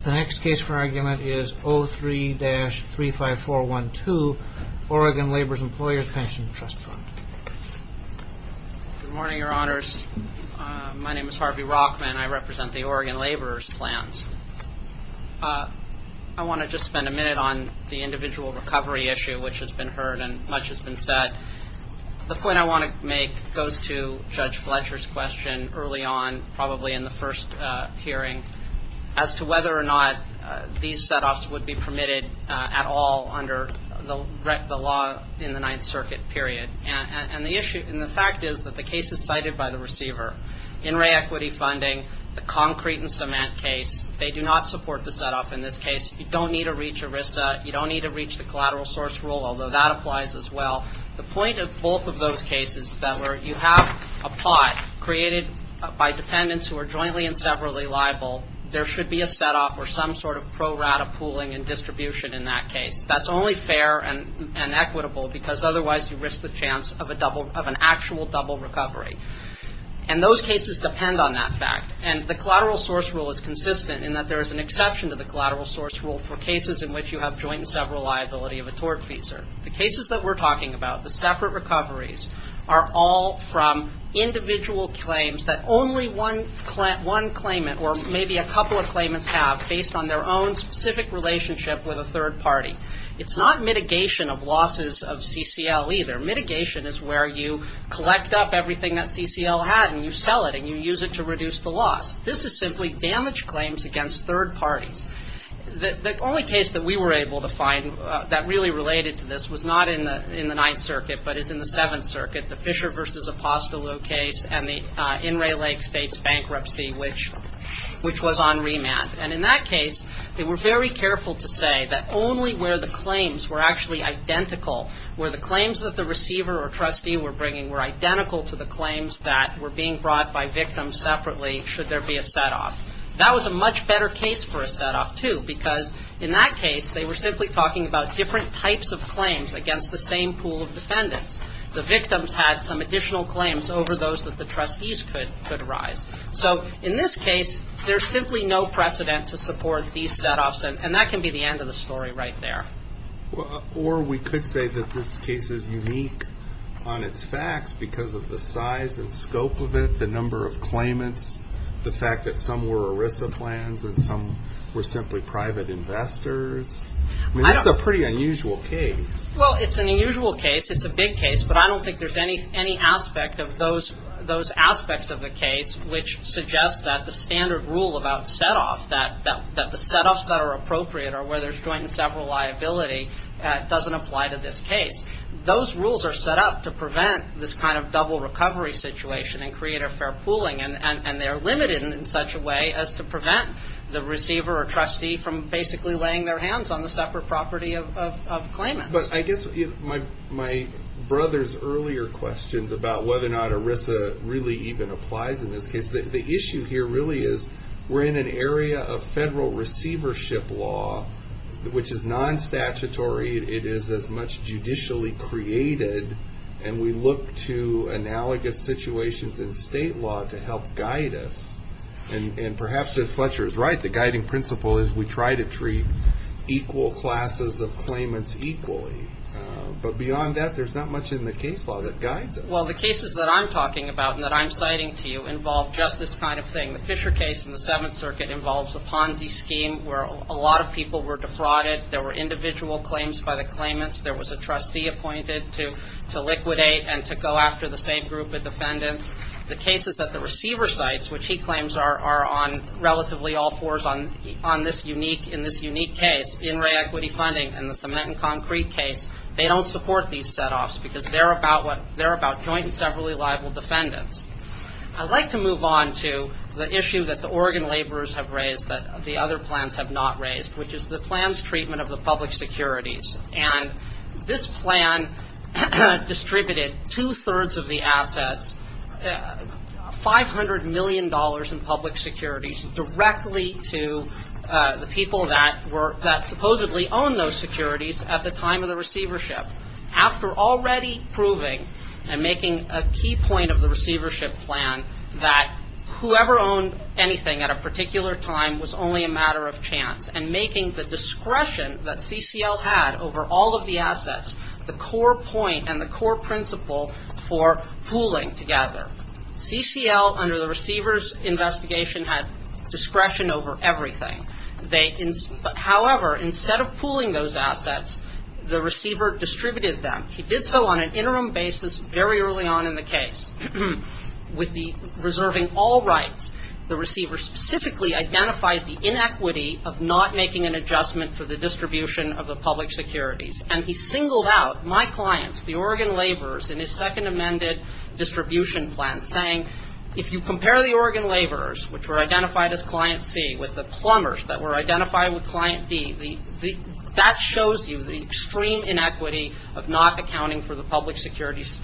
The next case for argument is 03-35412, Oregon Laborers-Employers Pension Trust Fund. Good morning, your honors. My name is Harvey Rockman. I represent the Oregon Laborers Plans. I want to just spend a minute on the individual recovery issue, which has been heard and much has been said. The point I want to make goes to Judge Fletcher's question early on, probably in the first hearing, as to whether or not these set-offs would be permitted at all under the law in the Ninth Circuit period. And the fact is that the case is cited by the receiver, in-ray equity funding, the concrete and cement case. They do not support the set-off in this case. You don't need to reach ERISA. You don't need to reach the collateral source rule, although that applies as well. The point of both of those cases is that where you have a pot created by dependents who are jointly and severally liable, there should be a set-off or some sort of pro-rata pooling and distribution in that case. That's only fair and equitable, because otherwise you risk the chance of an actual double recovery. And those cases depend on that fact. And the collateral source rule is consistent in that there is an exception to the collateral source rule for cases in which you have joint and several liability of a tort feeser. The cases that we're talking about, the separate recoveries, are all from individual claims that only one claimant or maybe a couple of claimants have based on their own specific relationship with a third party. It's not mitigation of losses of CCL either. Mitigation is where you collect up everything that CCL had and you sell it and you use it to reduce the loss. This is simply damage claims against third parties. The only case that we were able to find that really related to this was not in the Ninth Circuit, but is in the Seventh Circuit, the Fisher v. Apostolo case and the In re Lake State's bankruptcy, which was on remand. And in that case, they were very careful to say that only where the claims were actually identical, where the claims that the receiver or trustee were bringing were identical to the claims that were being brought by victims separately should there be a set-off. That was a much better case for a set-off, too, because in that case, they were simply talking about different types of claims against the same pool of defendants. The victims had some additional claims over those that the trustees could arise. So in this case, there's simply no precedent to support these set-offs, and that can be the end of the story right there. Or we could say that this case is unique on its facts because of the size and scope of it, the number of claimants, the fact that some were ERISA plans and some were simply private investors. I mean, it's a pretty unusual case. Well, it's an unusual case. It's a big case, but I don't think there's any aspect of those aspects of the case which suggests that the standard rule about set-off, that the set-offs that are appropriate are where there's joint and several liability, doesn't apply to this case. Those rules are set up to prevent this kind of double recovery situation and create a fair pooling, and they're limited in such a way as to prevent the receiver or trustee from basically laying their hands on the separate property of claimants. But I guess my brother's earlier questions about whether or not ERISA really even applies in this case, the issue here really is we're in an area of federal receivership law, which is non-statutory. It is as much judicially created, and we look to analogous situations in state law to help guide us. And perhaps if Fletcher is right, the guiding principle is we try to treat equal classes of claimants equally. But beyond that, there's not much in the case law that guides us. Well, the cases that I'm talking about and that I'm citing to you involve just this kind of thing. The Fisher case in the Seventh Circuit involves a Ponzi scheme where a lot of people were defrauded. There were individual claims by the claimants. There was a trustee appointed to liquidate and to go after the same group of defendants. The cases that the receiver cites, which he claims are on relatively all fours in this unique case, in-ray equity funding and the cement and concrete case, they don't support these set-offs because they're about joint and severally liable defendants. I'd like to move on to the issue that the Oregon laborers have raised that the other plans have not raised, which is the plans treatment of the public securities. And this plan distributed two-thirds of the assets, $500 million in public securities, directly to the people that supposedly owned those securities at the time of the receivership. After already proving and making a key point of the receivership plan that whoever owned anything at a particular time was only a matter of chance, and making the discretion that CCL had over all of the assets the core point and the core principle for pooling together. CCL, under the receivers' investigation, had discretion over everything. However, instead of pooling those assets, the receiver distributed them. He did so on an interim basis very early on in the case. With the reserving all rights, the receiver specifically identified the inequity of not making an adjustment for the distribution of the public securities. And he singled out my clients, the Oregon laborers, in his second amended distribution plan, saying if you compare the Oregon laborers, which were identified as Client C, with the plumbers that were identified with Client D, that shows you the extreme inequity of not accounting for the public securities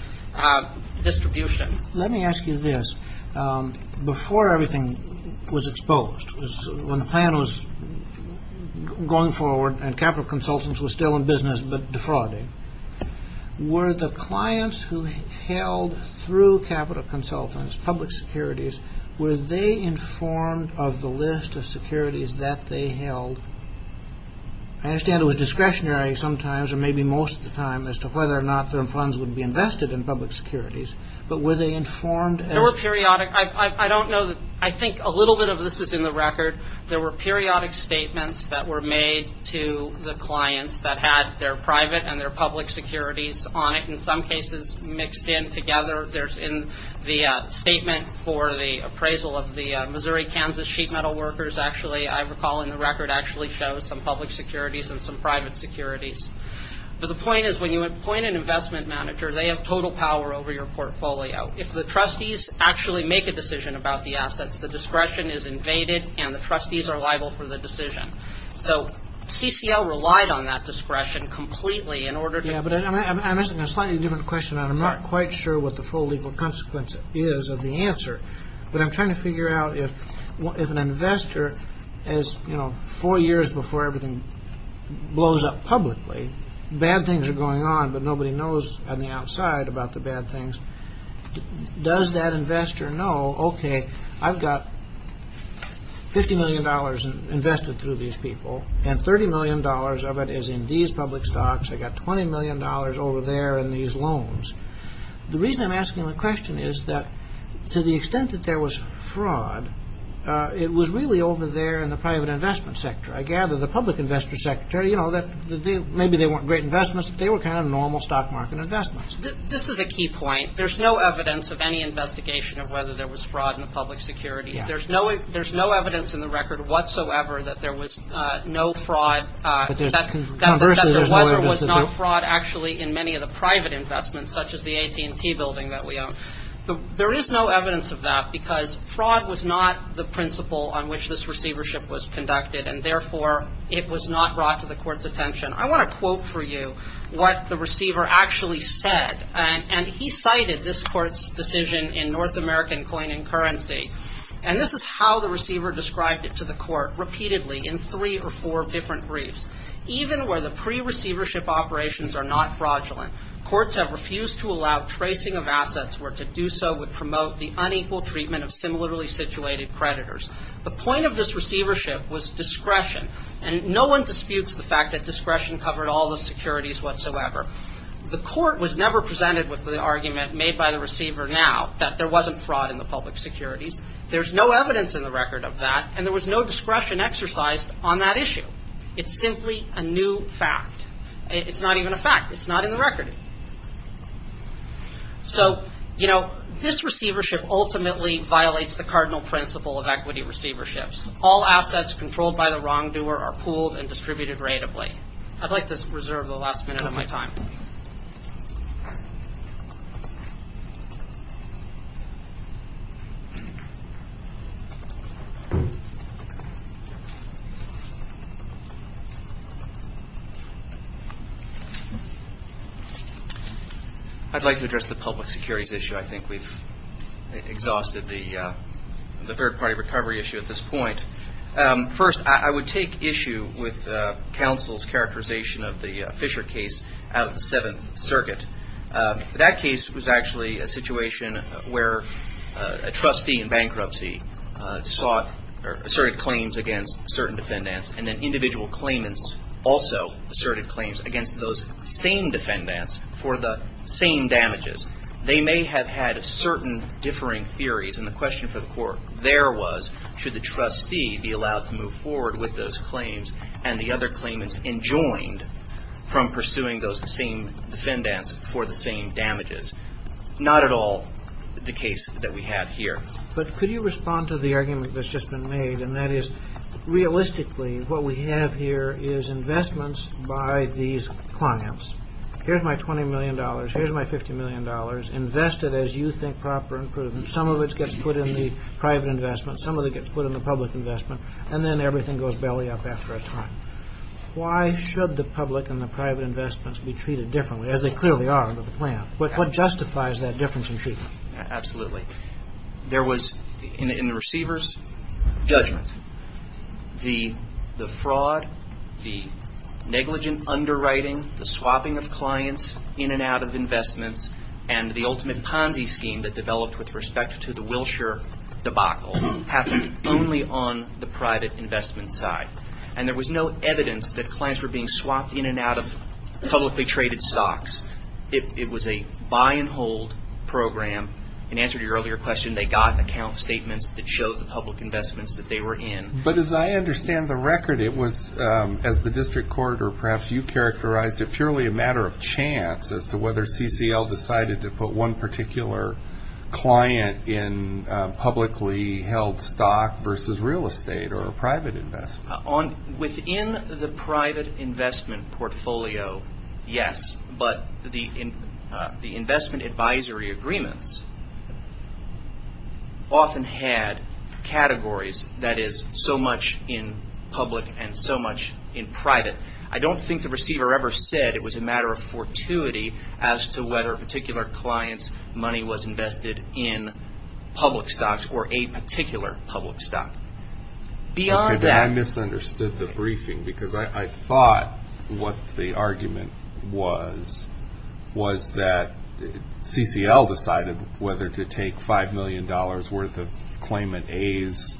distribution. Let me ask you this. Before everything was exposed, when the plan was going forward and Capital Consultants was still in business but defrauding, were the clients who held through Capital Consultants public securities, were they informed of the list of securities that they held? I understand it was discretionary sometimes, or maybe most of the time, as to whether or not their funds would be invested in public securities. But were they informed? I don't know. I think a little bit of this is in the record. There were periodic statements that were made to the clients that had their private and their public securities on it, in some cases mixed in together. There's in the statement for the appraisal of the Missouri-Kansas sheet metal workers, actually I recall in the record actually shows some public securities and some private securities. But the point is when you appoint an investment manager, they have total power over your portfolio. If the trustees actually make a decision about the assets, the discretion is invaded and the trustees are liable for the decision. So CCL relied on that discretion completely in order to Yeah, but I'm asking a slightly different question. I'm not quite sure what the full legal consequence is of the answer. But I'm trying to figure out if an investor, as four years before everything blows up publicly, bad things are going on but nobody knows on the outside about the bad things, does that investor know, okay, I've got $50 million invested through these people and $30 million of it is in these public stocks. I've got $20 million over there in these loans. The reason I'm asking the question is that to the extent that there was fraud, it was really over there in the private investment sector. I gather the public investor sector, you know, maybe they weren't great investments, but they were kind of normal stock market investments. This is a key point. There's no evidence of any investigation of whether there was fraud in the public securities. There's no evidence in the record whatsoever that there was no fraud. That there was or was not fraud actually in many of the private investments, such as the AT&T building that we own. There is no evidence of that because fraud was not the principle on which this receivership was conducted and therefore it was not brought to the court's attention. I want to quote for you what the receiver actually said, and he cited this court's decision in North American Coin and Currency. And this is how the receiver described it to the court repeatedly in three or four different briefs. Even where the pre-receivership operations are not fraudulent, courts have refused to allow tracing of assets where to do so would promote the unequal treatment of similarly situated creditors. The point of this receivership was discretion, and no one disputes the fact that discretion covered all the securities whatsoever. The court was never presented with the argument made by the receiver now that there wasn't fraud in the public securities. There's no evidence in the record of that, and there was no discretion exercised on that issue. It's simply a new fact. It's not even a fact. It's not in the record. So, you know, this receivership ultimately violates the cardinal principle of equity receiverships. All assets controlled by the wrongdoer are pooled and distributed rateably. I'd like to reserve the last minute of my time. I'd like to address the public securities issue. I think we've exhausted the third-party recovery issue at this point. First, I would take issue with counsel's characterization of the Fisher case out of the Seventh Circuit. That case was actually a situation where a trustee in bankruptcy sought or asserted claims against certain defendants, and then individual claimants also asserted claims against those same defendants for the same damages. They may have had certain differing theories, and the question for the court there was should the trustee be allowed to move forward with those claims and the other claimants enjoined from pursuing those same defendants for the same damages. Not at all the case that we have here. But could you respond to the argument that's just been made, and that is, realistically, what we have here is investments by these clients. Here's my $20 million. Here's my $50 million. Invest it as you think proper and prudent. Some of it gets put in the private investment. Some of it gets put in the public investment. And then everything goes belly up after a time. Why should the public and the private investments be treated differently, as they clearly are under the plan? What justifies that difference in treatment? Absolutely. There was, in the receiver's judgment, the fraud, the negligent underwriting, the swapping of clients in and out of investments, and the ultimate Ponzi scheme that developed with respect to the Wilshire debacle happened only on the private investment side. And there was no evidence that clients were being swapped in and out of publicly traded stocks. It was a buy and hold program. In answer to your earlier question, they got account statements that showed the public investments that they were in. But as I understand the record, it was, as the district court or perhaps you characterized it, purely a matter of chance as to whether CCL decided to put one particular client in publicly held stock versus real estate or private investment. Within the private investment portfolio, yes. But the investment advisory agreements often had categories, that is, so much in public and so much in private. I don't think the receiver ever said it was a matter of fortuity as to whether a particular client's money was invested in public stocks or a particular public stock. Okay, but I misunderstood the briefing because I thought what the argument was, was that CCL decided whether to take $5 million worth of claimant A's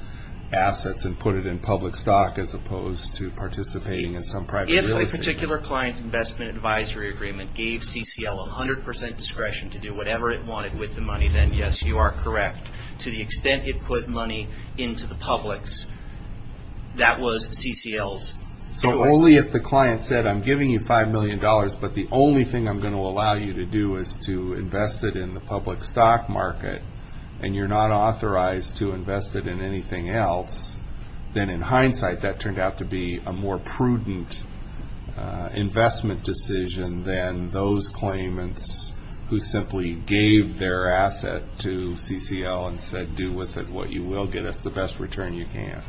assets and put it in public stock as opposed to participating in some private real estate. If a particular client's investment advisory agreement gave CCL 100 percent discretion to do whatever it wanted with the money, then yes, you are correct. To the extent it put money into the public's, that was CCL's choice. So only if the client said, I'm giving you $5 million, but the only thing I'm going to allow you to do is to invest it in the public stock market, and you're not authorized to invest it in anything else, then in hindsight that turned out to be a more prudent investment decision than those claimants who simply gave their asset to CCL and said, do with it what you will get us the best return you can.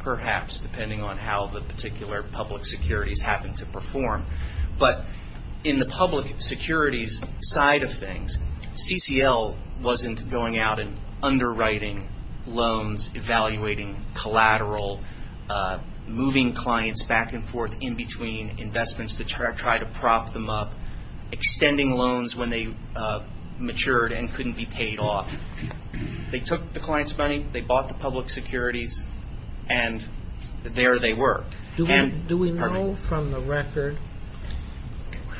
Perhaps, depending on how the particular public securities happen to perform. But in the public securities side of things, CCL wasn't going out and underwriting loans, evaluating collateral, moving clients back and forth in between investments to try to prop them up, extending loans when they matured and couldn't be paid off. They took the client's money, they bought the public securities, and there they were. Do we know from the record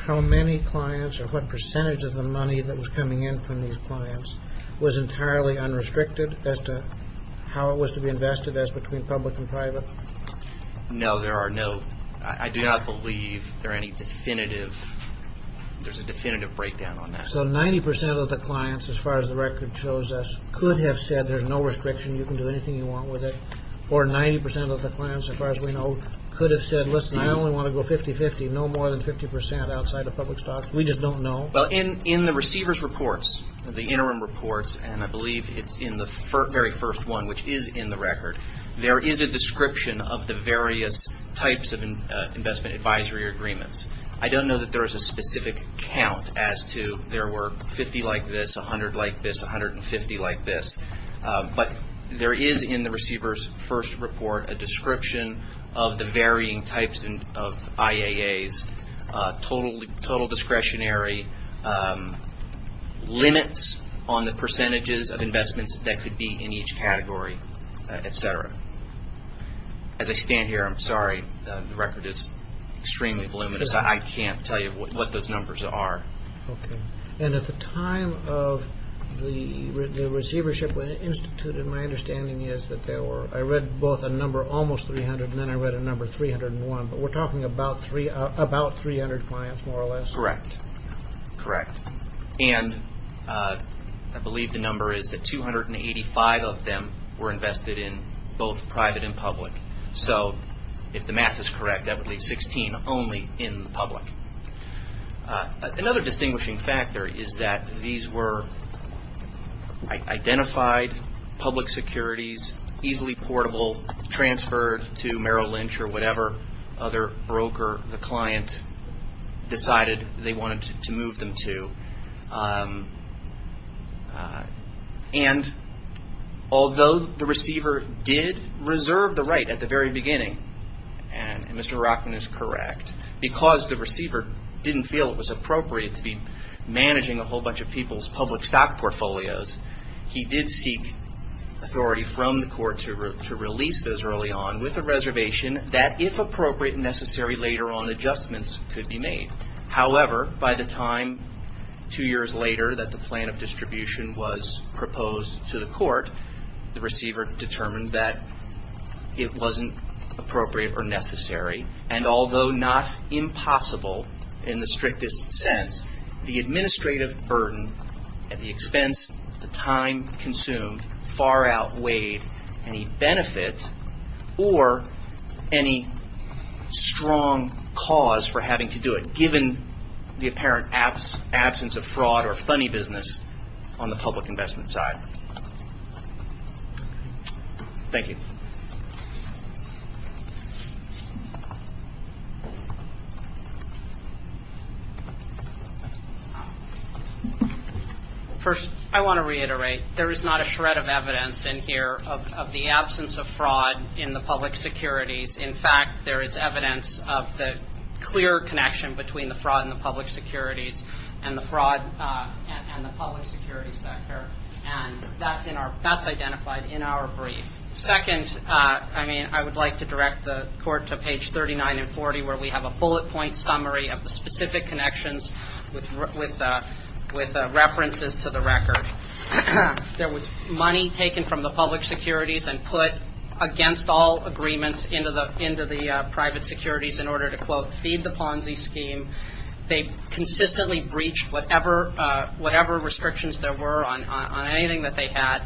how many clients or what percentage of the money that was coming in from these clients was entirely unrestricted as to how it was to be invested as between public and private? No, there are no – I do not believe there are any definitive – there's a definitive breakdown on that. So 90% of the clients, as far as the record shows us, could have said there's no restriction, you can do anything you want with it. Or 90% of the clients, as far as we know, could have said, listen, I only want to go 50-50, no more than 50% outside of public stock. We just don't know. Well, in the receiver's reports, the interim reports, and I believe it's in the very first one, which is in the record, there is a description of the various types of investment advisory agreements. I don't know that there is a specific count as to there were 50 like this, 100 like this, 150 like this, but there is in the receiver's first report a description of the varying types of IAAs, total discretionary limits on the percentages of investments that could be in each category, et cetera. As I stand here, I'm sorry, the record is extremely voluminous, I can't tell you what those numbers are. Okay. And at the time of the receivership institute, my understanding is that there were – I read both a number almost 300 and then I read a number 301, but we're talking about 300 clients more or less? Correct. And I believe the number is that 285 of them were invested in both private and public. So if the math is correct, that would leave 16 only in the public. Another distinguishing factor is that these were identified public securities, easily portable, transferred to Merrill Lynch or whatever other broker the client decided they wanted to move them to. And although the receiver did reserve the right at the very beginning, and Mr. Rockman is correct, because the receiver didn't feel it was appropriate to be managing a whole bunch of people's public stock portfolios, he did seek authority from the court to release those early on with a reservation that if appropriate and necessary later on adjustments could be made. However, by the time two years later that the plan of distribution was proposed to the court, the receiver determined that it wasn't appropriate or necessary, and although not impossible in the strictest sense, the administrative burden at the expense of the time consumed far outweighed any benefit or any strong cause for having to do it, given the apparent absence of fraud or funny business on the public investment side. Thank you. First, I want to reiterate, there is not a shred of evidence in here of the absence of fraud in the public securities. In fact, there is evidence of the clear connection between the fraud in the public securities and the public securities sector, and that's identified in our brief. Second, I would like to direct the court to page 39 and 40, where we have a bullet point summary of the specific connections with references to the record. There was money taken from the public securities and put against all agreements into the private securities in order to, quote, feed the Ponzi scheme. They consistently breached whatever restrictions there were on anything that they had.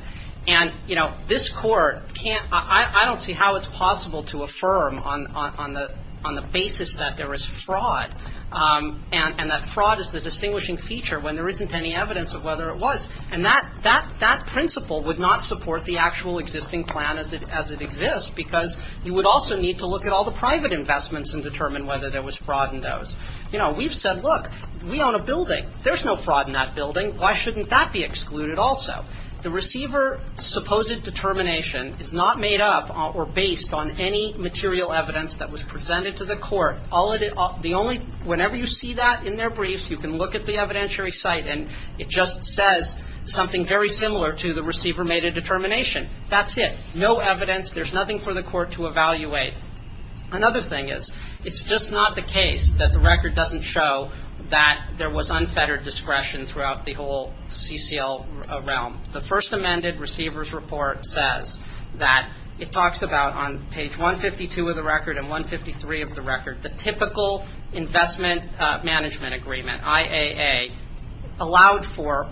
And, you know, this Court can't ‑‑ I don't see how it's possible to affirm on the basis that there is fraud and that fraud is the distinguishing feature when there isn't any evidence of whether it was. And that principle would not support the actual existing plan as it exists because you would also need to look at all the private investments and determine whether there was fraud in those. You know, we've said, look, we own a building. There's no fraud in that building. Why shouldn't that be excluded also? The receiver's supposed determination is not made up or based on any material evidence that was presented to the court. The only ‑‑ whenever you see that in their briefs, you can look at the evidentiary site and it just says something very similar to the receiver made a determination. That's it. No evidence. There's nothing for the court to evaluate. Another thing is it's just not the case that the record doesn't show that there was unfettered discretion throughout the whole CCL realm. The first amended receiver's report says that it talks about on page 152 of the record and 153 of the record the typical investment management agreement, IAA, allowed for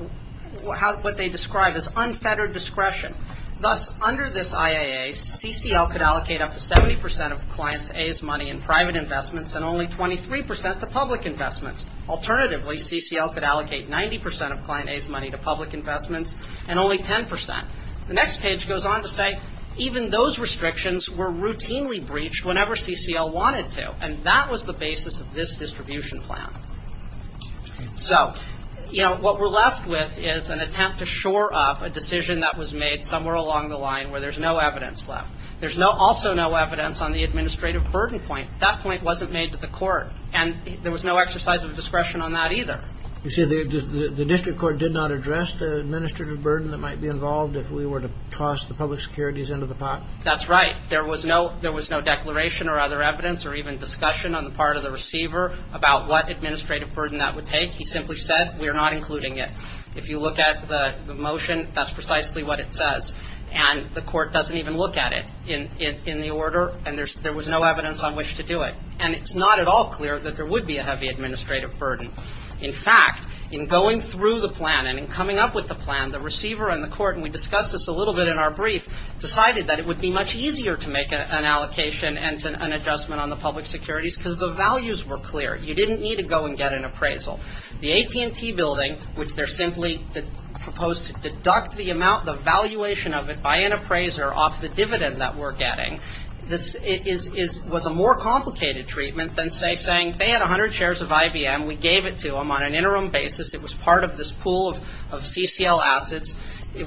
what they describe as unfettered discretion. Thus, under this IAA, CCL could allocate up to 70% of the client's A's money in private investments and only 23% to public investments. Alternatively, CCL could allocate 90% of client A's money to public investments and only 10%. The next page goes on to say even those restrictions were routinely breached whenever CCL wanted to, and that was the basis of this distribution plan. So, you know, what we're left with is an attempt to shore up a decision that was made somewhere along the line where there's no evidence left. There's also no evidence on the administrative burden point. That point wasn't made to the court, and there was no exercise of discretion on that either. You see, the district court did not address the administrative burden that might be involved if we were to toss the public securities into the pot? That's right. There was no declaration or other evidence or even discussion on the part of the receiver about what administrative burden that would take. He simply said, we are not including it. If you look at the motion, that's precisely what it says. And the court doesn't even look at it in the order, and there was no evidence on which to do it. And it's not at all clear that there would be a heavy administrative burden. In fact, in going through the plan and in coming up with the plan, the receiver and the court, and we discussed this a little bit in our brief, decided that it would be much easier to make an allocation and an adjustment on the public securities because the values were clear. You didn't need to go and get an appraisal. The AT&T building, which they're simply proposed to deduct the amount, the valuation of it by an appraiser off the dividend that we're getting, was a more complicated treatment than, say, saying they had 100 shares of IBM. We gave it to them on an interim basis. It was part of this pool of CCL assets.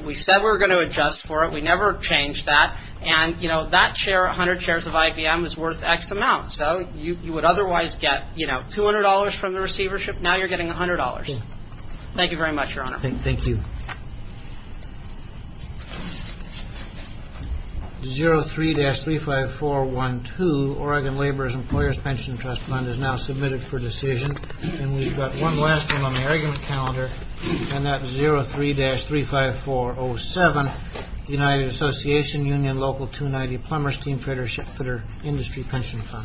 We said we were going to adjust for it. We never changed that. And, you know, that share, 100 shares of IBM, is worth X amount. So you would otherwise get, you know, $200 from the receivership. Now you're getting $100. Thank you very much, Your Honor. Thank you. 03-35412, Oregon Laborers' Employers' Pension Trust Fund, is now submitted for decision. And we've got one last one on the argument calendar, and that's 03-35407, United Association, Union Local 290, Plumbers Team, Freighter, Shipfitter, Industry Pension Fund.